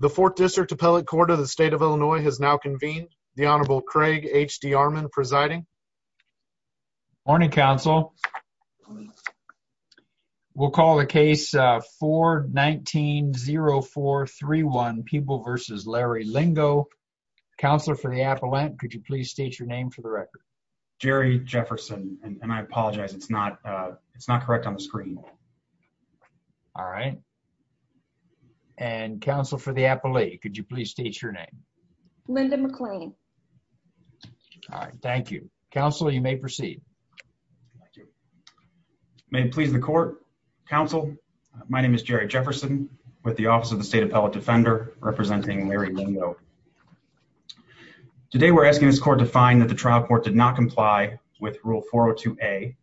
The 4th District Appellate Court of the State of Illinois has now convened. The Honorable Craig H.D. Armon presiding. Morning, Counsel. We'll call the case 419-0431, People v. Larry Lingo. Counselor for the Appellant, could you please state your name for the record? Jerry Jefferson, and I apologize, it's not correct on the screen. Alright. And Counsel for the Appellate, could you please state your name? Linda McLean. Alright, thank you. Counsel, you may proceed. May it please the Court, Counsel, my name is Jerry Jefferson with the Office of the State Appellate Defender, representing Larry Lingo. Today we're asking this Court to find that the trial court did not comply with Rule 402A,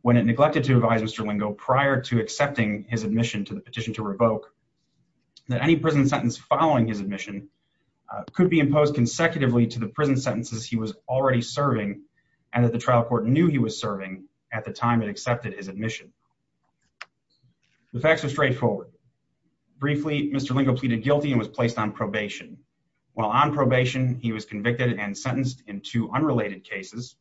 when it neglected to advise Mr. Lingo prior to accepting his admission to the petition to revoke, that any prison sentence following his admission could be imposed consecutively to the prison sentences he was already serving, and that the trial court knew he was serving at the time it accepted his admission. The facts are straightforward. Briefly, Mr. Lingo pleaded guilty and was placed on probation. While on probation, he was convicted and sentenced in two unrelated cases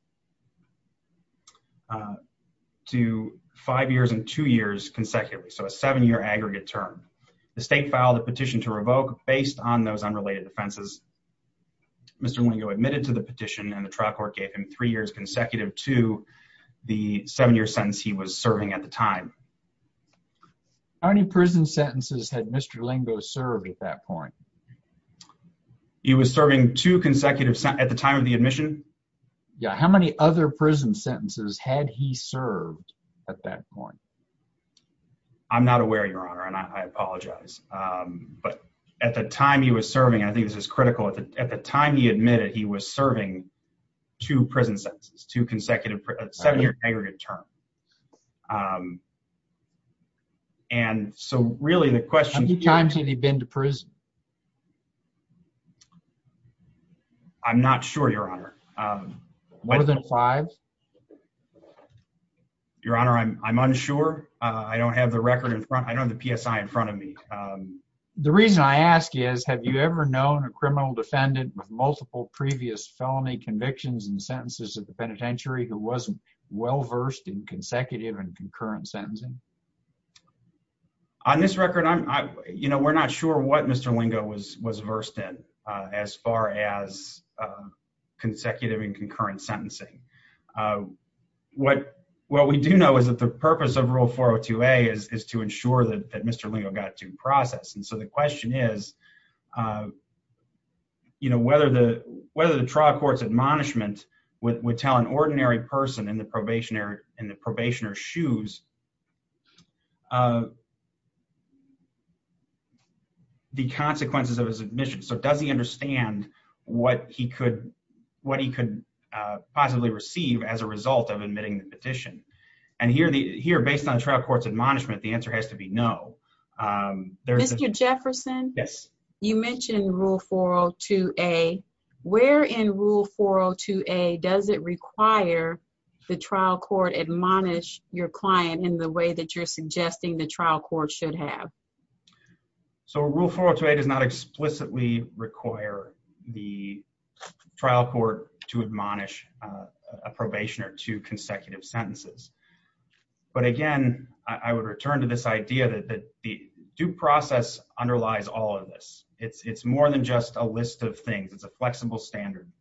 to five years and two years consecutively, so a seven-year aggregate term. The State filed a petition to revoke based on those unrelated defenses. Mr. Lingo admitted to the petition, and the trial court gave him three years consecutive to the seven-year sentence he was serving at the time. How many prison sentences had Mr. Lingo served at that point? He was serving two consecutive sentences at the time of the admission. Yeah, how many other prison sentences had he served at that point? I'm not aware, Your Honor, and I apologize. But at the time he was serving, and I think this is critical, at the time he admitted, he was serving two prison sentences, two consecutive, seven-year aggregate term. And so really the question— How many times had he been to prison? I'm not sure, Your Honor. More than five? Your Honor, I'm unsure. I don't have the record in front—I don't have the PSI in front of me. The reason I ask is, have you ever known a criminal defendant with multiple previous felony convictions and sentences at the penitentiary who wasn't well-versed in consecutive and concurrent sentencing? On this record, you know, we're not sure what Mr. Lingo was versed in as far as consecutive and concurrent sentencing. What we do know is that the purpose of Rule 402A is to ensure that Mr. Lingo got to process. And so the question is, you know, whether the trial court's admonishment would tell an ordinary person in the probationer's shoes the consequences of his admission. So does he understand what he could possibly receive as a result of admitting the petition? And here, based on trial court's admonishment, the answer has to be no. Mr. Jefferson? Yes. You mentioned Rule 402A. Where in Rule 402A does it require the trial court admonish your client in the way that you're suggesting the trial court should have? So Rule 402A does not explicitly require the trial court to admonish a probationer to consecutive sentences. But again, I would return to this idea that the due process underlies all of this. It's more than just a list of things. It's a flexible standard.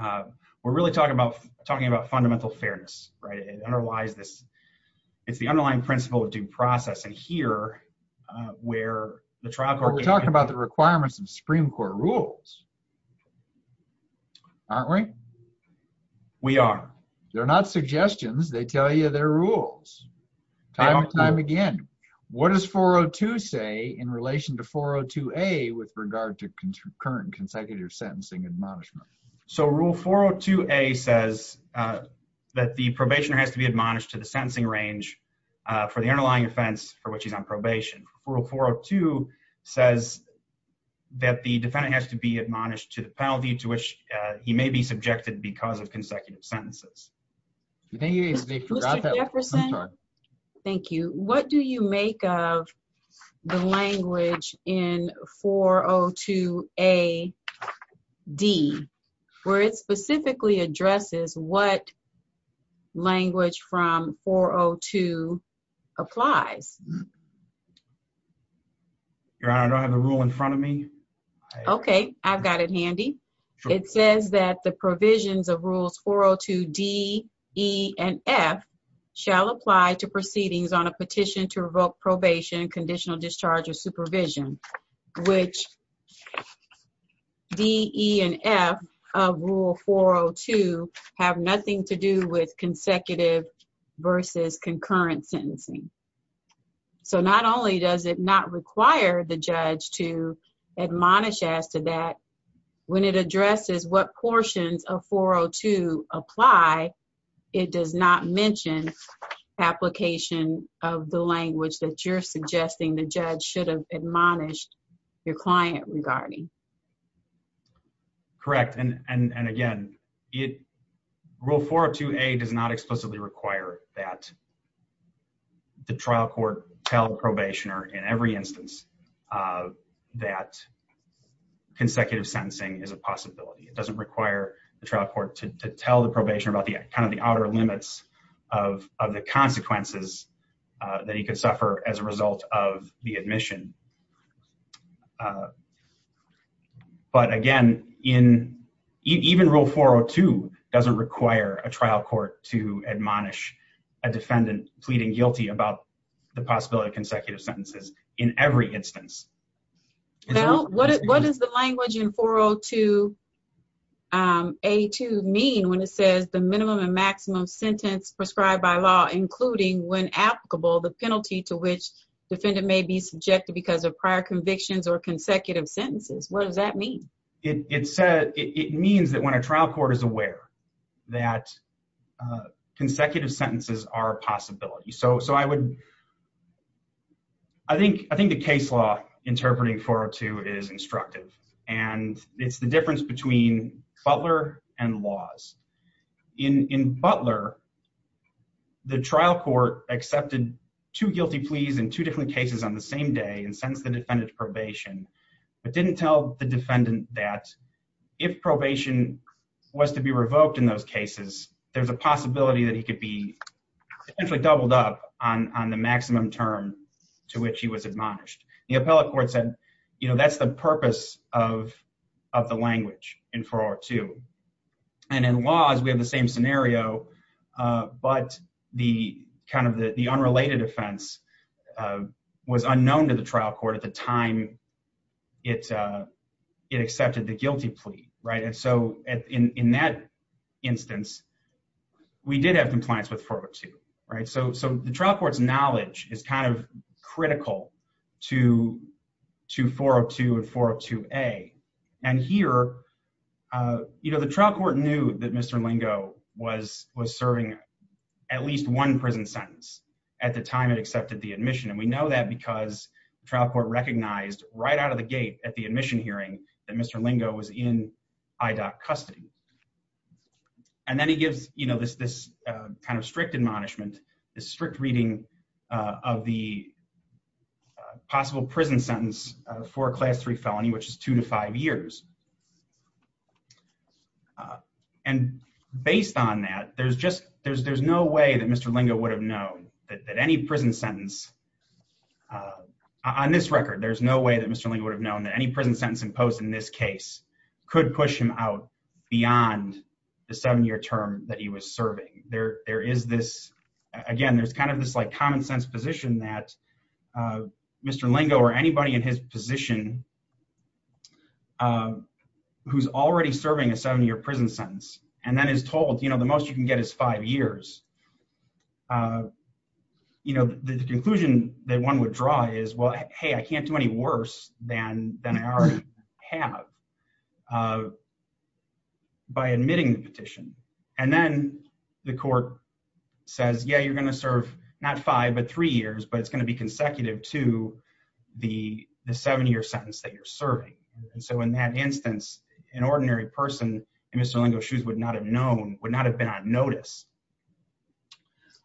We're really talking about fundamental fairness, right? It underlies this. It's the underlying principle of due process. And here, where the trial court... We're talking about the requirements of Supreme Court rules, aren't we? We are. They're not suggestions. They tell you they're rules, time and time again. What does 402 say in relation to 402A with regard to current consecutive sentencing admonishment? So Rule 402A says that the probationer has to be admonished to the sentencing range for the underlying offense for which he's on probation. Rule 402 says that the defendant has to be admonished to the penalty to which he may be subjected because of consecutive sentences. Mr. Jefferson? Thank you. What do you make of the language in 402A-D where it specifically addresses what language from 402 applies? Your Honor, I don't have the rule in front of me. Okay. I've got it handy. It says that the provisions of Rules 402-D, E, and F shall apply to proceedings on a petition to revoke probation, conditional discharge, or supervision, which D, E, and F of Rule 402 have nothing to do with consecutive versus concurrent sentencing. So not only does it not require the judge to admonish as to that, when it addresses what portions of 402 apply, it does not mention application of the language that you're suggesting the judge should have admonished your client regarding. Correct. And again, Rule 402-A does not explicitly require that the trial court tell the probationer in every instance that consecutive sentencing is a possibility. It doesn't require the trial court to tell the probationer about kind of the outer limits of the consequences that he could suffer as a result of the admission. But again, even Rule 402 doesn't require a trial court to admonish a defendant pleading guilty about the possibility of consecutive sentences in every instance. Now, what does the language in 402-A2 mean when it says the minimum and maximum sentence prescribed by law, including when applicable, the penalty to which defendant may be subjected because of prior convictions or consecutive sentences? What does that mean? It means that when a trial court is aware that consecutive sentences are a possibility. I think the case law interpreting 402 is instructive, and it's the difference between Butler and laws. In Butler, the trial court accepted two guilty pleas in two different cases on the same day and sentenced the defendant to probation, but didn't tell the defendant that if probation was to be revoked in those cases, there's a possibility that he could be essentially doubled up on the maximum term to which he was admonished. The appellate court said, that's the purpose of the language in 402. And in laws, we have the same scenario, but the unrelated offense was unknown to the trial court at the time it accepted the guilty plea. In that instance, we did have compliance with 402. The trial court's knowledge is critical to 402 and 402-A. The trial court knew that Mr. Lingo was serving at least one prison sentence at the time it accepted the admission. And we know that because the trial court recognized right out of the gate at the admission hearing that Mr. Lingo was in IDOC custody. And then he gives this kind of strict admonishment, this strict reading of the possible prison sentence for a Class III felony, which is two to five years. And based on that, there's no way that Mr. Lingo would have known that any prison sentence, on this record, there's no way that Mr. Lingo would have known that any prison sentence imposed in this case could push him out beyond the seven-year term that he was serving. Again, there's kind of this like common-sense position that Mr. Lingo or anybody in his position who's already serving a seven-year prison sentence and then is told, you know, the most you can get is five years. The conclusion that one would draw is, well, hey, I can't do any worse than I already have by admitting the petition. And then the court says, yeah, you're going to serve not five but three years, but it's going to be consecutive to the seven-year sentence that you're serving. And so in that instance, an ordinary person in Mr. Lingo's shoes would not have known, would not have been on notice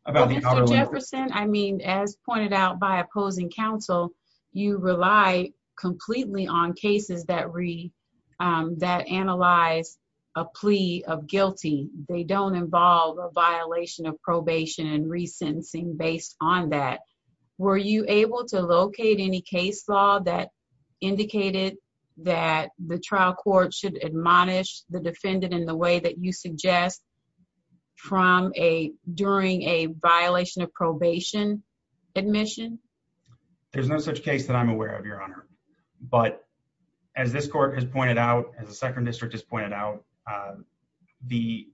about the cover letter. Mr. Jefferson, I mean, as pointed out by opposing counsel, you rely completely on cases that analyze a plea of guilty. They don't involve a violation of probation and resentencing based on that. Were you able to locate any case law that indicated that the trial court should admonish the defendant in the way that you suggest during a violation of probation admission? There's no such case that I'm aware of, Your Honor. But as this court has pointed out, as the second district has pointed out, the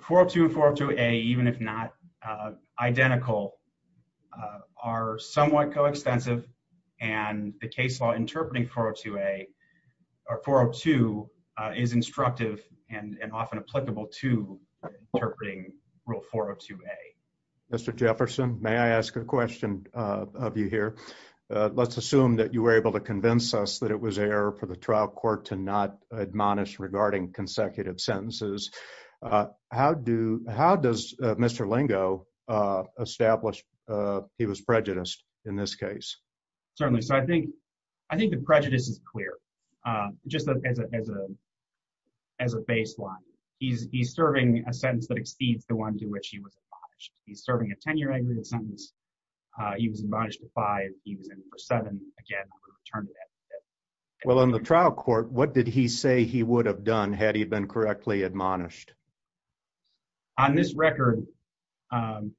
402 and 402A, even if not identical, are somewhat coextensive. And the case law interpreting 402A or 402 is instructive and often applicable to interpreting Rule 402A. Mr. Jefferson, may I ask a question of you here? Let's assume that you were able to convince us that it was error for the trial court to not admonish regarding consecutive sentences. How does Mr. Lingo establish he was prejudiced in this case? Certainly. So I think the prejudice is clear, just as a baseline. He's serving a sentence that exceeds the one to which he was admonished. He's serving a 10-year aggravated sentence. He was admonished to five. He was in for seven. Again, I would return to that. Well, in the trial court, what did he say he would have done had he been correctly admonished? On this record, we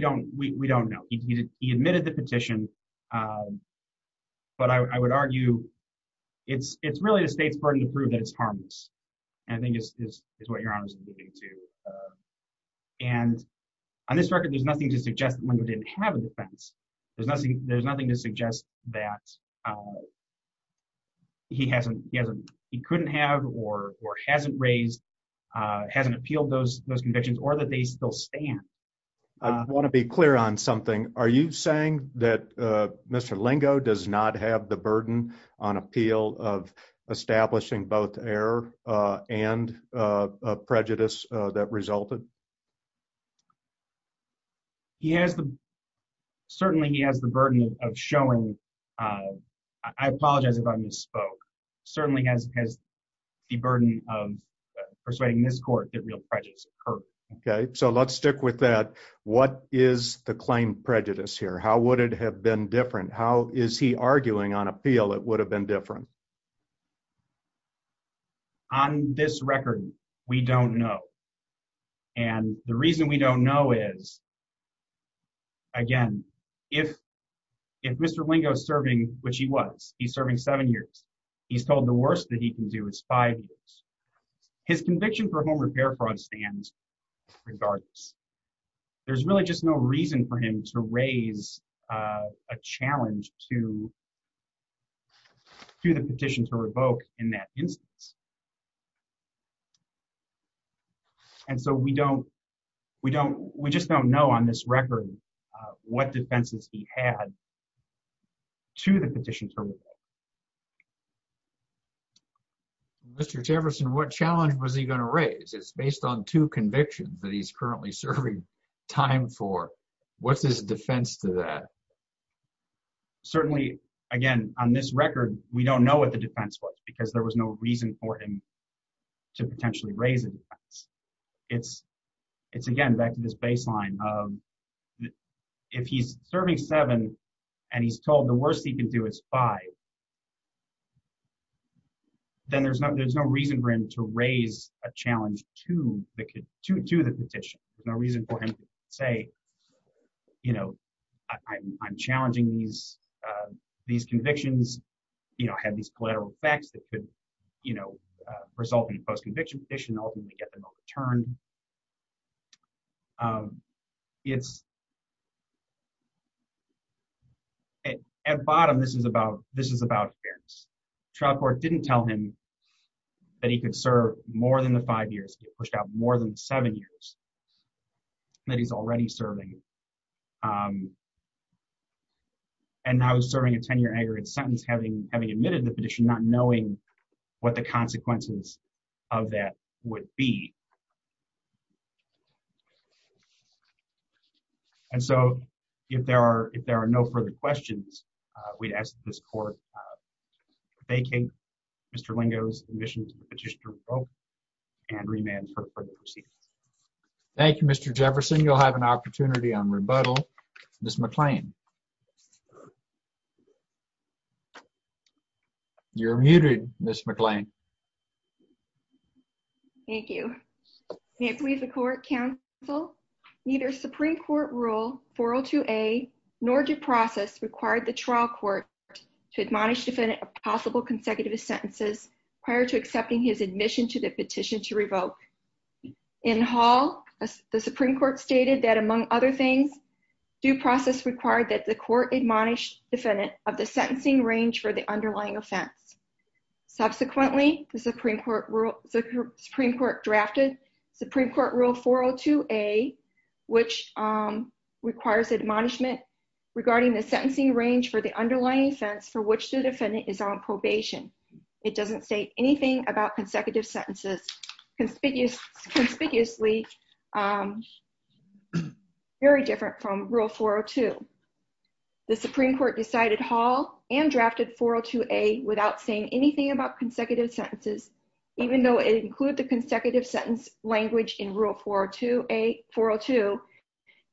don't know. He admitted the petition, but I would argue it's really the state's burden to prove that it's harmless. And I think it's what your Honor is alluding to. And on this record, there's nothing to suggest that Lingo didn't have a defense. There's nothing to suggest that he couldn't have or hasn't raised, hasn't appealed those convictions or that they still stand. I want to be clear on something. Are you saying that Mr. Lingo does not have the burden on appeal of establishing both error and prejudice that resulted? He has the certainly he has the burden of showing. I apologize if I misspoke. Certainly has the burden of persuading this court that real prejudice occurred. OK, so let's stick with that. What is the claim prejudice here? How would it have been different? How is he arguing on appeal? It would have been different. On this record, we don't know. And the reason we don't know is. Again, if if Mr. Lingo serving, which he was, he's serving seven years. He's told the worst that he can do is five years. His conviction for home repair fraud stands regardless. There's really just no reason for him to raise a challenge to. To the petition to revoke in that instance. And so we don't we don't we just don't know on this record what defenses he had. To the petition. Mr. Jefferson, what challenge was he going to raise? It's based on two convictions that he's currently serving time for. What's his defense to that? Certainly, again, on this record, we don't know what the defense was because there was no reason for him to potentially raise it. It's it's again back to this baseline. If he's serving seven and he's told the worst he can do is five. Then there's not there's no reason for him to raise a challenge to the to to the petition. No reason for him to say, you know, I'm challenging these these convictions, you know, have these collateral effects that could, you know, result in a post-conviction petition. And ultimately get them overturned. It's. At bottom, this is about this is about fairness. Trial court didn't tell him that he could serve more than the five years pushed out more than seven years. That he's already serving. And now he's serving a 10 year aggregate sentence, having having admitted the petition, not knowing what the consequences of that would be. And so if there are if there are no further questions, we'd ask this court. Thank you, Mr. Lingo's admission to the petition and remand for further proceedings. Thank you, Mr. Jefferson. You'll have an opportunity on rebuttal. This McLean. You're muted, Miss McLean. Thank you. If we have a court counsel, neither Supreme Court rule for to a nor due process required the trial court to admonish defendant of possible consecutive sentences prior to accepting his admission to the petition to revoke. In Hall, the Supreme Court stated that, among other things, due process required that the court admonished defendant of the sentencing range for the underlying offense. Subsequently, the Supreme Court rule Supreme Court drafted Supreme Court rule for to a which requires admonishment regarding the sentencing range for the underlying offense for which the defendant is on probation. It doesn't say anything about consecutive sentences conspicuous conspicuously. Very different from rule for to the Supreme Court decided Hall and drafted for to a without saying anything about consecutive sentences, even though it include the consecutive sentence language in rule for to a for to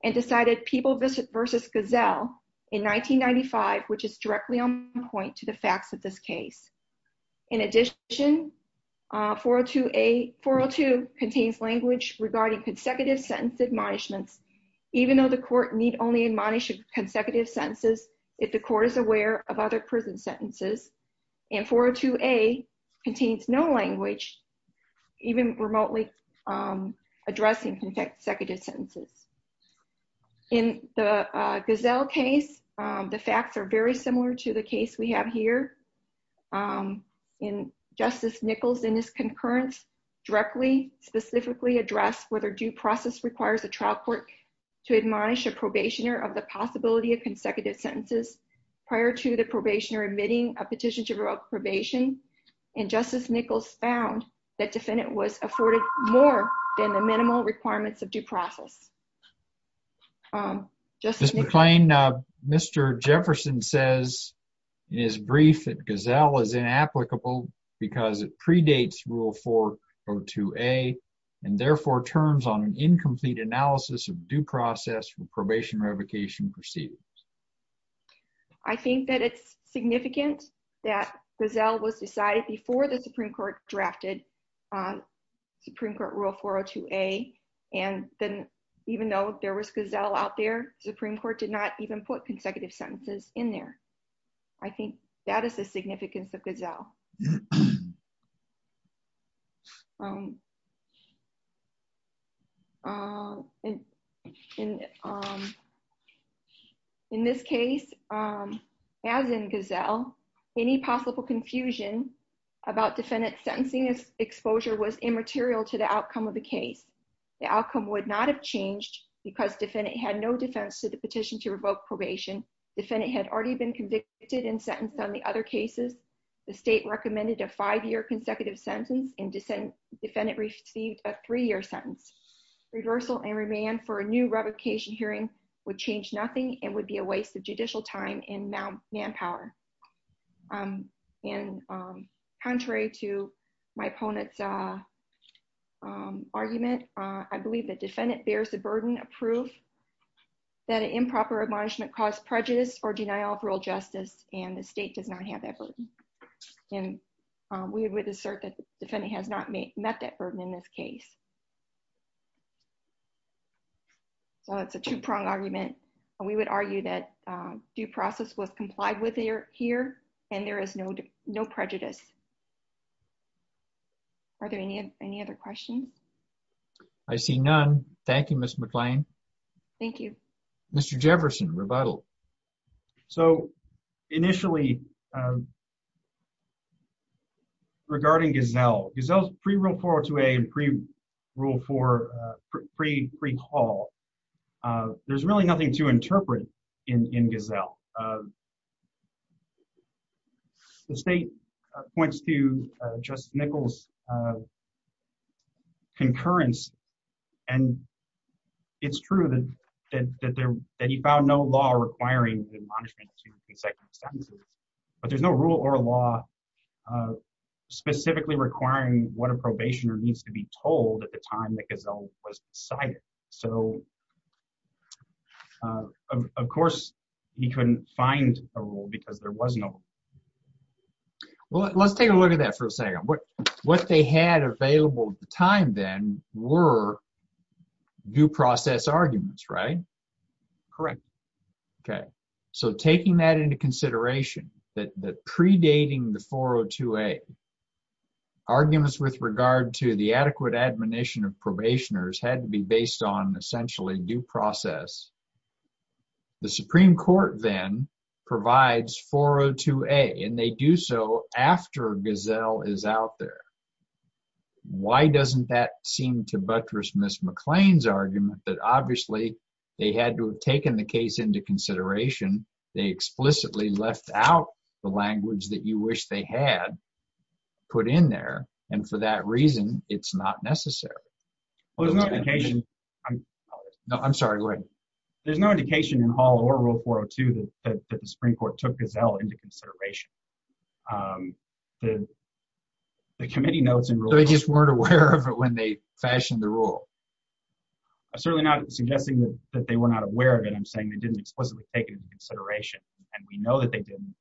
and decided people visit versus gazelle in 1995, which is directly on point to the facts of this case. In addition, for to a for to contains language regarding consecutive sentence admonishments, even though the court need only admonish consecutive sentences. If the court is aware of other prison sentences and for to a contains no language, even remotely addressing consecutive sentences. In the gazelle case, the facts are very similar to the case we have here. In justice Nichols in his concurrence directly specifically address whether due process requires a trial court to admonish a probationer of the possibility of consecutive sentences prior to the probation or admitting a petition to probation and justice Nichols found that defendant was afforded more than the minimal requirements of due process. Justice McLean Mr. Jefferson says is briefed gazelle is inapplicable because it predates rule for to a and therefore terms on an incomplete analysis of due process for probation revocation proceedings. I think that it's significant that gazelle was decided before the Supreme Court drafted on Supreme Court rule for to a and then even though there was gazelle out there, Supreme Court did not even put consecutive sentences in there. I think that is the significance of gazelle In this case, as in gazelle any possible confusion about defendant sentencing exposure was immaterial to the outcome of the case. The outcome would not have changed because defendant had no defense to the petition to revoke probation defendant had already been convicted and sentenced on the other cases. The state recommended a five year consecutive sentence and defendant received a three year sentence reversal and remand for a new revocation hearing would change nothing and would be a waste of judicial time and manpower. And contrary to my opponent's Argument, I believe that defendant bears the burden of proof. That improper admonishment cause prejudice or denial of real justice and the state does not have that burden and we would assert that defendant has not met that burden in this case. So it's a two prong argument. We would argue that due process was complied with your here and there is no no prejudice. Are there any any other questions. I see none. Thank you, Miss McLean. Thank you, Mr. Jefferson rebuttal. So initially Regarding gazelle gazelle pre real forward to a pre rule for free free call. There's really nothing to interpret in gazelle The state points to just Nichols Concurrence and it's true that there that he found no law requiring Second sentences, but there's no rule or law. Specifically requiring what a probation or needs to be told at the time that gazelle was decided so Of course, he couldn't find a rule because there was no Well, let's take a look at that for a second. But what they had available time then were due process arguments. Right. Correct. Okay. So taking that into consideration that that predating the 402 a Arguments with regard to the adequate admonition of probationers had to be based on essentially due process. The Supreme Court, then provides 402 a and they do so after gazelle is out there. Why doesn't that seem to buttress Miss McLean's argument that obviously they had to have taken the case into consideration, they explicitly left out the language that you wish they had put in there. And for that reason, it's not necessary. No, I'm sorry. There's no indication in Hall or rule 402 that the Supreme Court took gazelle into consideration. The committee notes and They just weren't aware of it when they fashioned the rule. I certainly not suggesting that they were not aware of it. I'm saying they didn't explicitly taken into consideration and we know that they didn't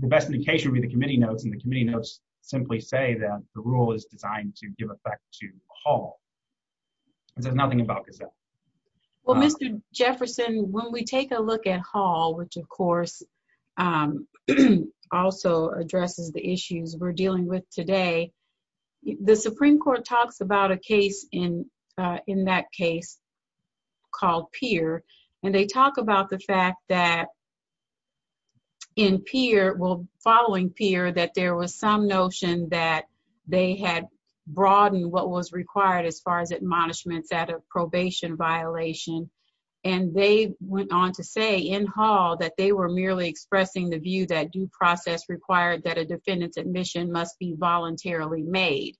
The best indication with the committee notes and the committee notes simply say that the rule is designed to give effect to Hall. There's nothing about because Well, Mr. Jefferson, when we take a look at Hall, which of course Also addresses the issues we're dealing with today. The Supreme Court talks about a case in in that case called peer and they talk about the fact that In peer will following peer that there was some notion that they had broadened what was required as far as admonishments out of probation violation. And they went on to say in Hall that they were merely expressing the view that due process required that a defendant's admission must be voluntarily made.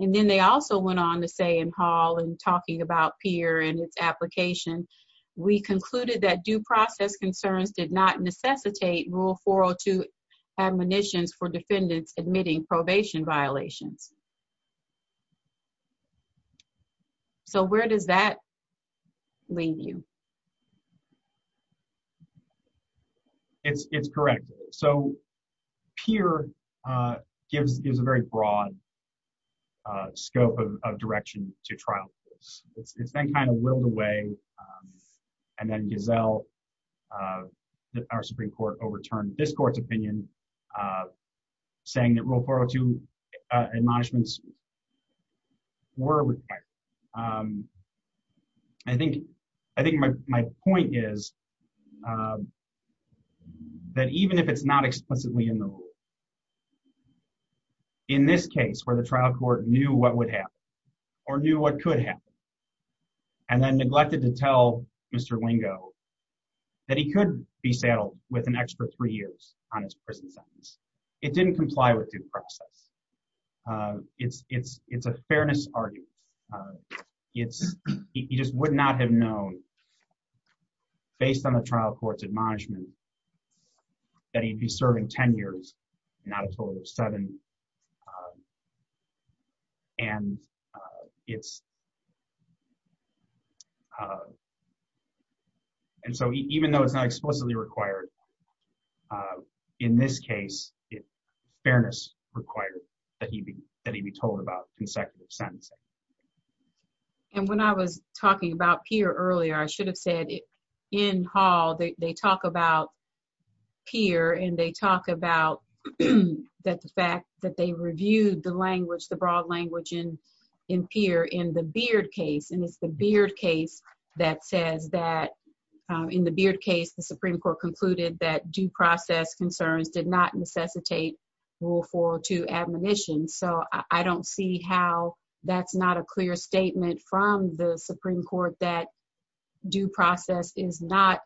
And then they also went on to say in Hall and talking about peer and its application. We concluded that due process concerns did not necessitate rule 402 admonitions for defendants admitting probation violations. So where does that Lead you It's, it's correct. So peer gives us a very broad Scope of direction to trial. It's been kind of whirled away. And then gazelle Our Supreme Court overturned this court's opinion. Saying that will borrow to admonishments. Were required I think, I think my point is That even if it's not explicitly in the In this case where the trial court knew what would happen or knew what could happen. And then neglected to tell Mr lingo that he could be settled with an extra three years on his prison sentence. It didn't comply with due process. It's, it's, it's a fairness argument. It's, he just would not have known Based on the trial courts admonishment. That he'd be serving 10 years not a total of seven. And it's And so even though it's not explicitly required In this case, it fairness required that he be that he be told about consecutive sentence. And when I was talking about peer earlier, I should have said it in hall. They talk about peer and they talk about That the fact that they reviewed the language, the broad language in in peer in the beard case. And it's the beard case that says that The Supreme Court that due process is not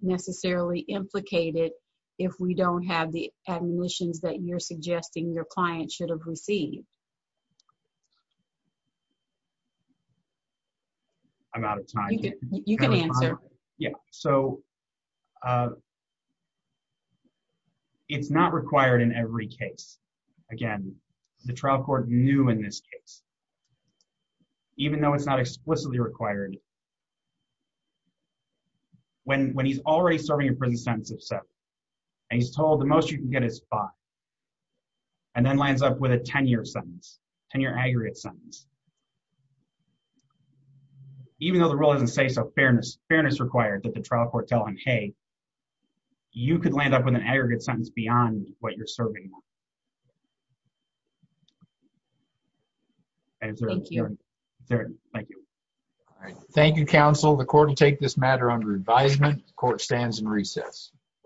necessarily implicated if we don't have the admissions that you're suggesting your client should have received I'm out of time. You can answer. Yeah, so It's not required in every case. Again, the trial court new in this case. Even though it's not explicitly required When when he's already serving a prison sentence of seven and he's told the most you can get his spot. And then lines up with a 10 year sentence and your aggregate sentence. Even though the role doesn't say so fairness fairness required that the trial court tell him, hey, You could land up with an aggregate sentence beyond what you're serving And Thank you. Thank you. Thank you, counsel, the court to take this matter under advisement court stands and recess.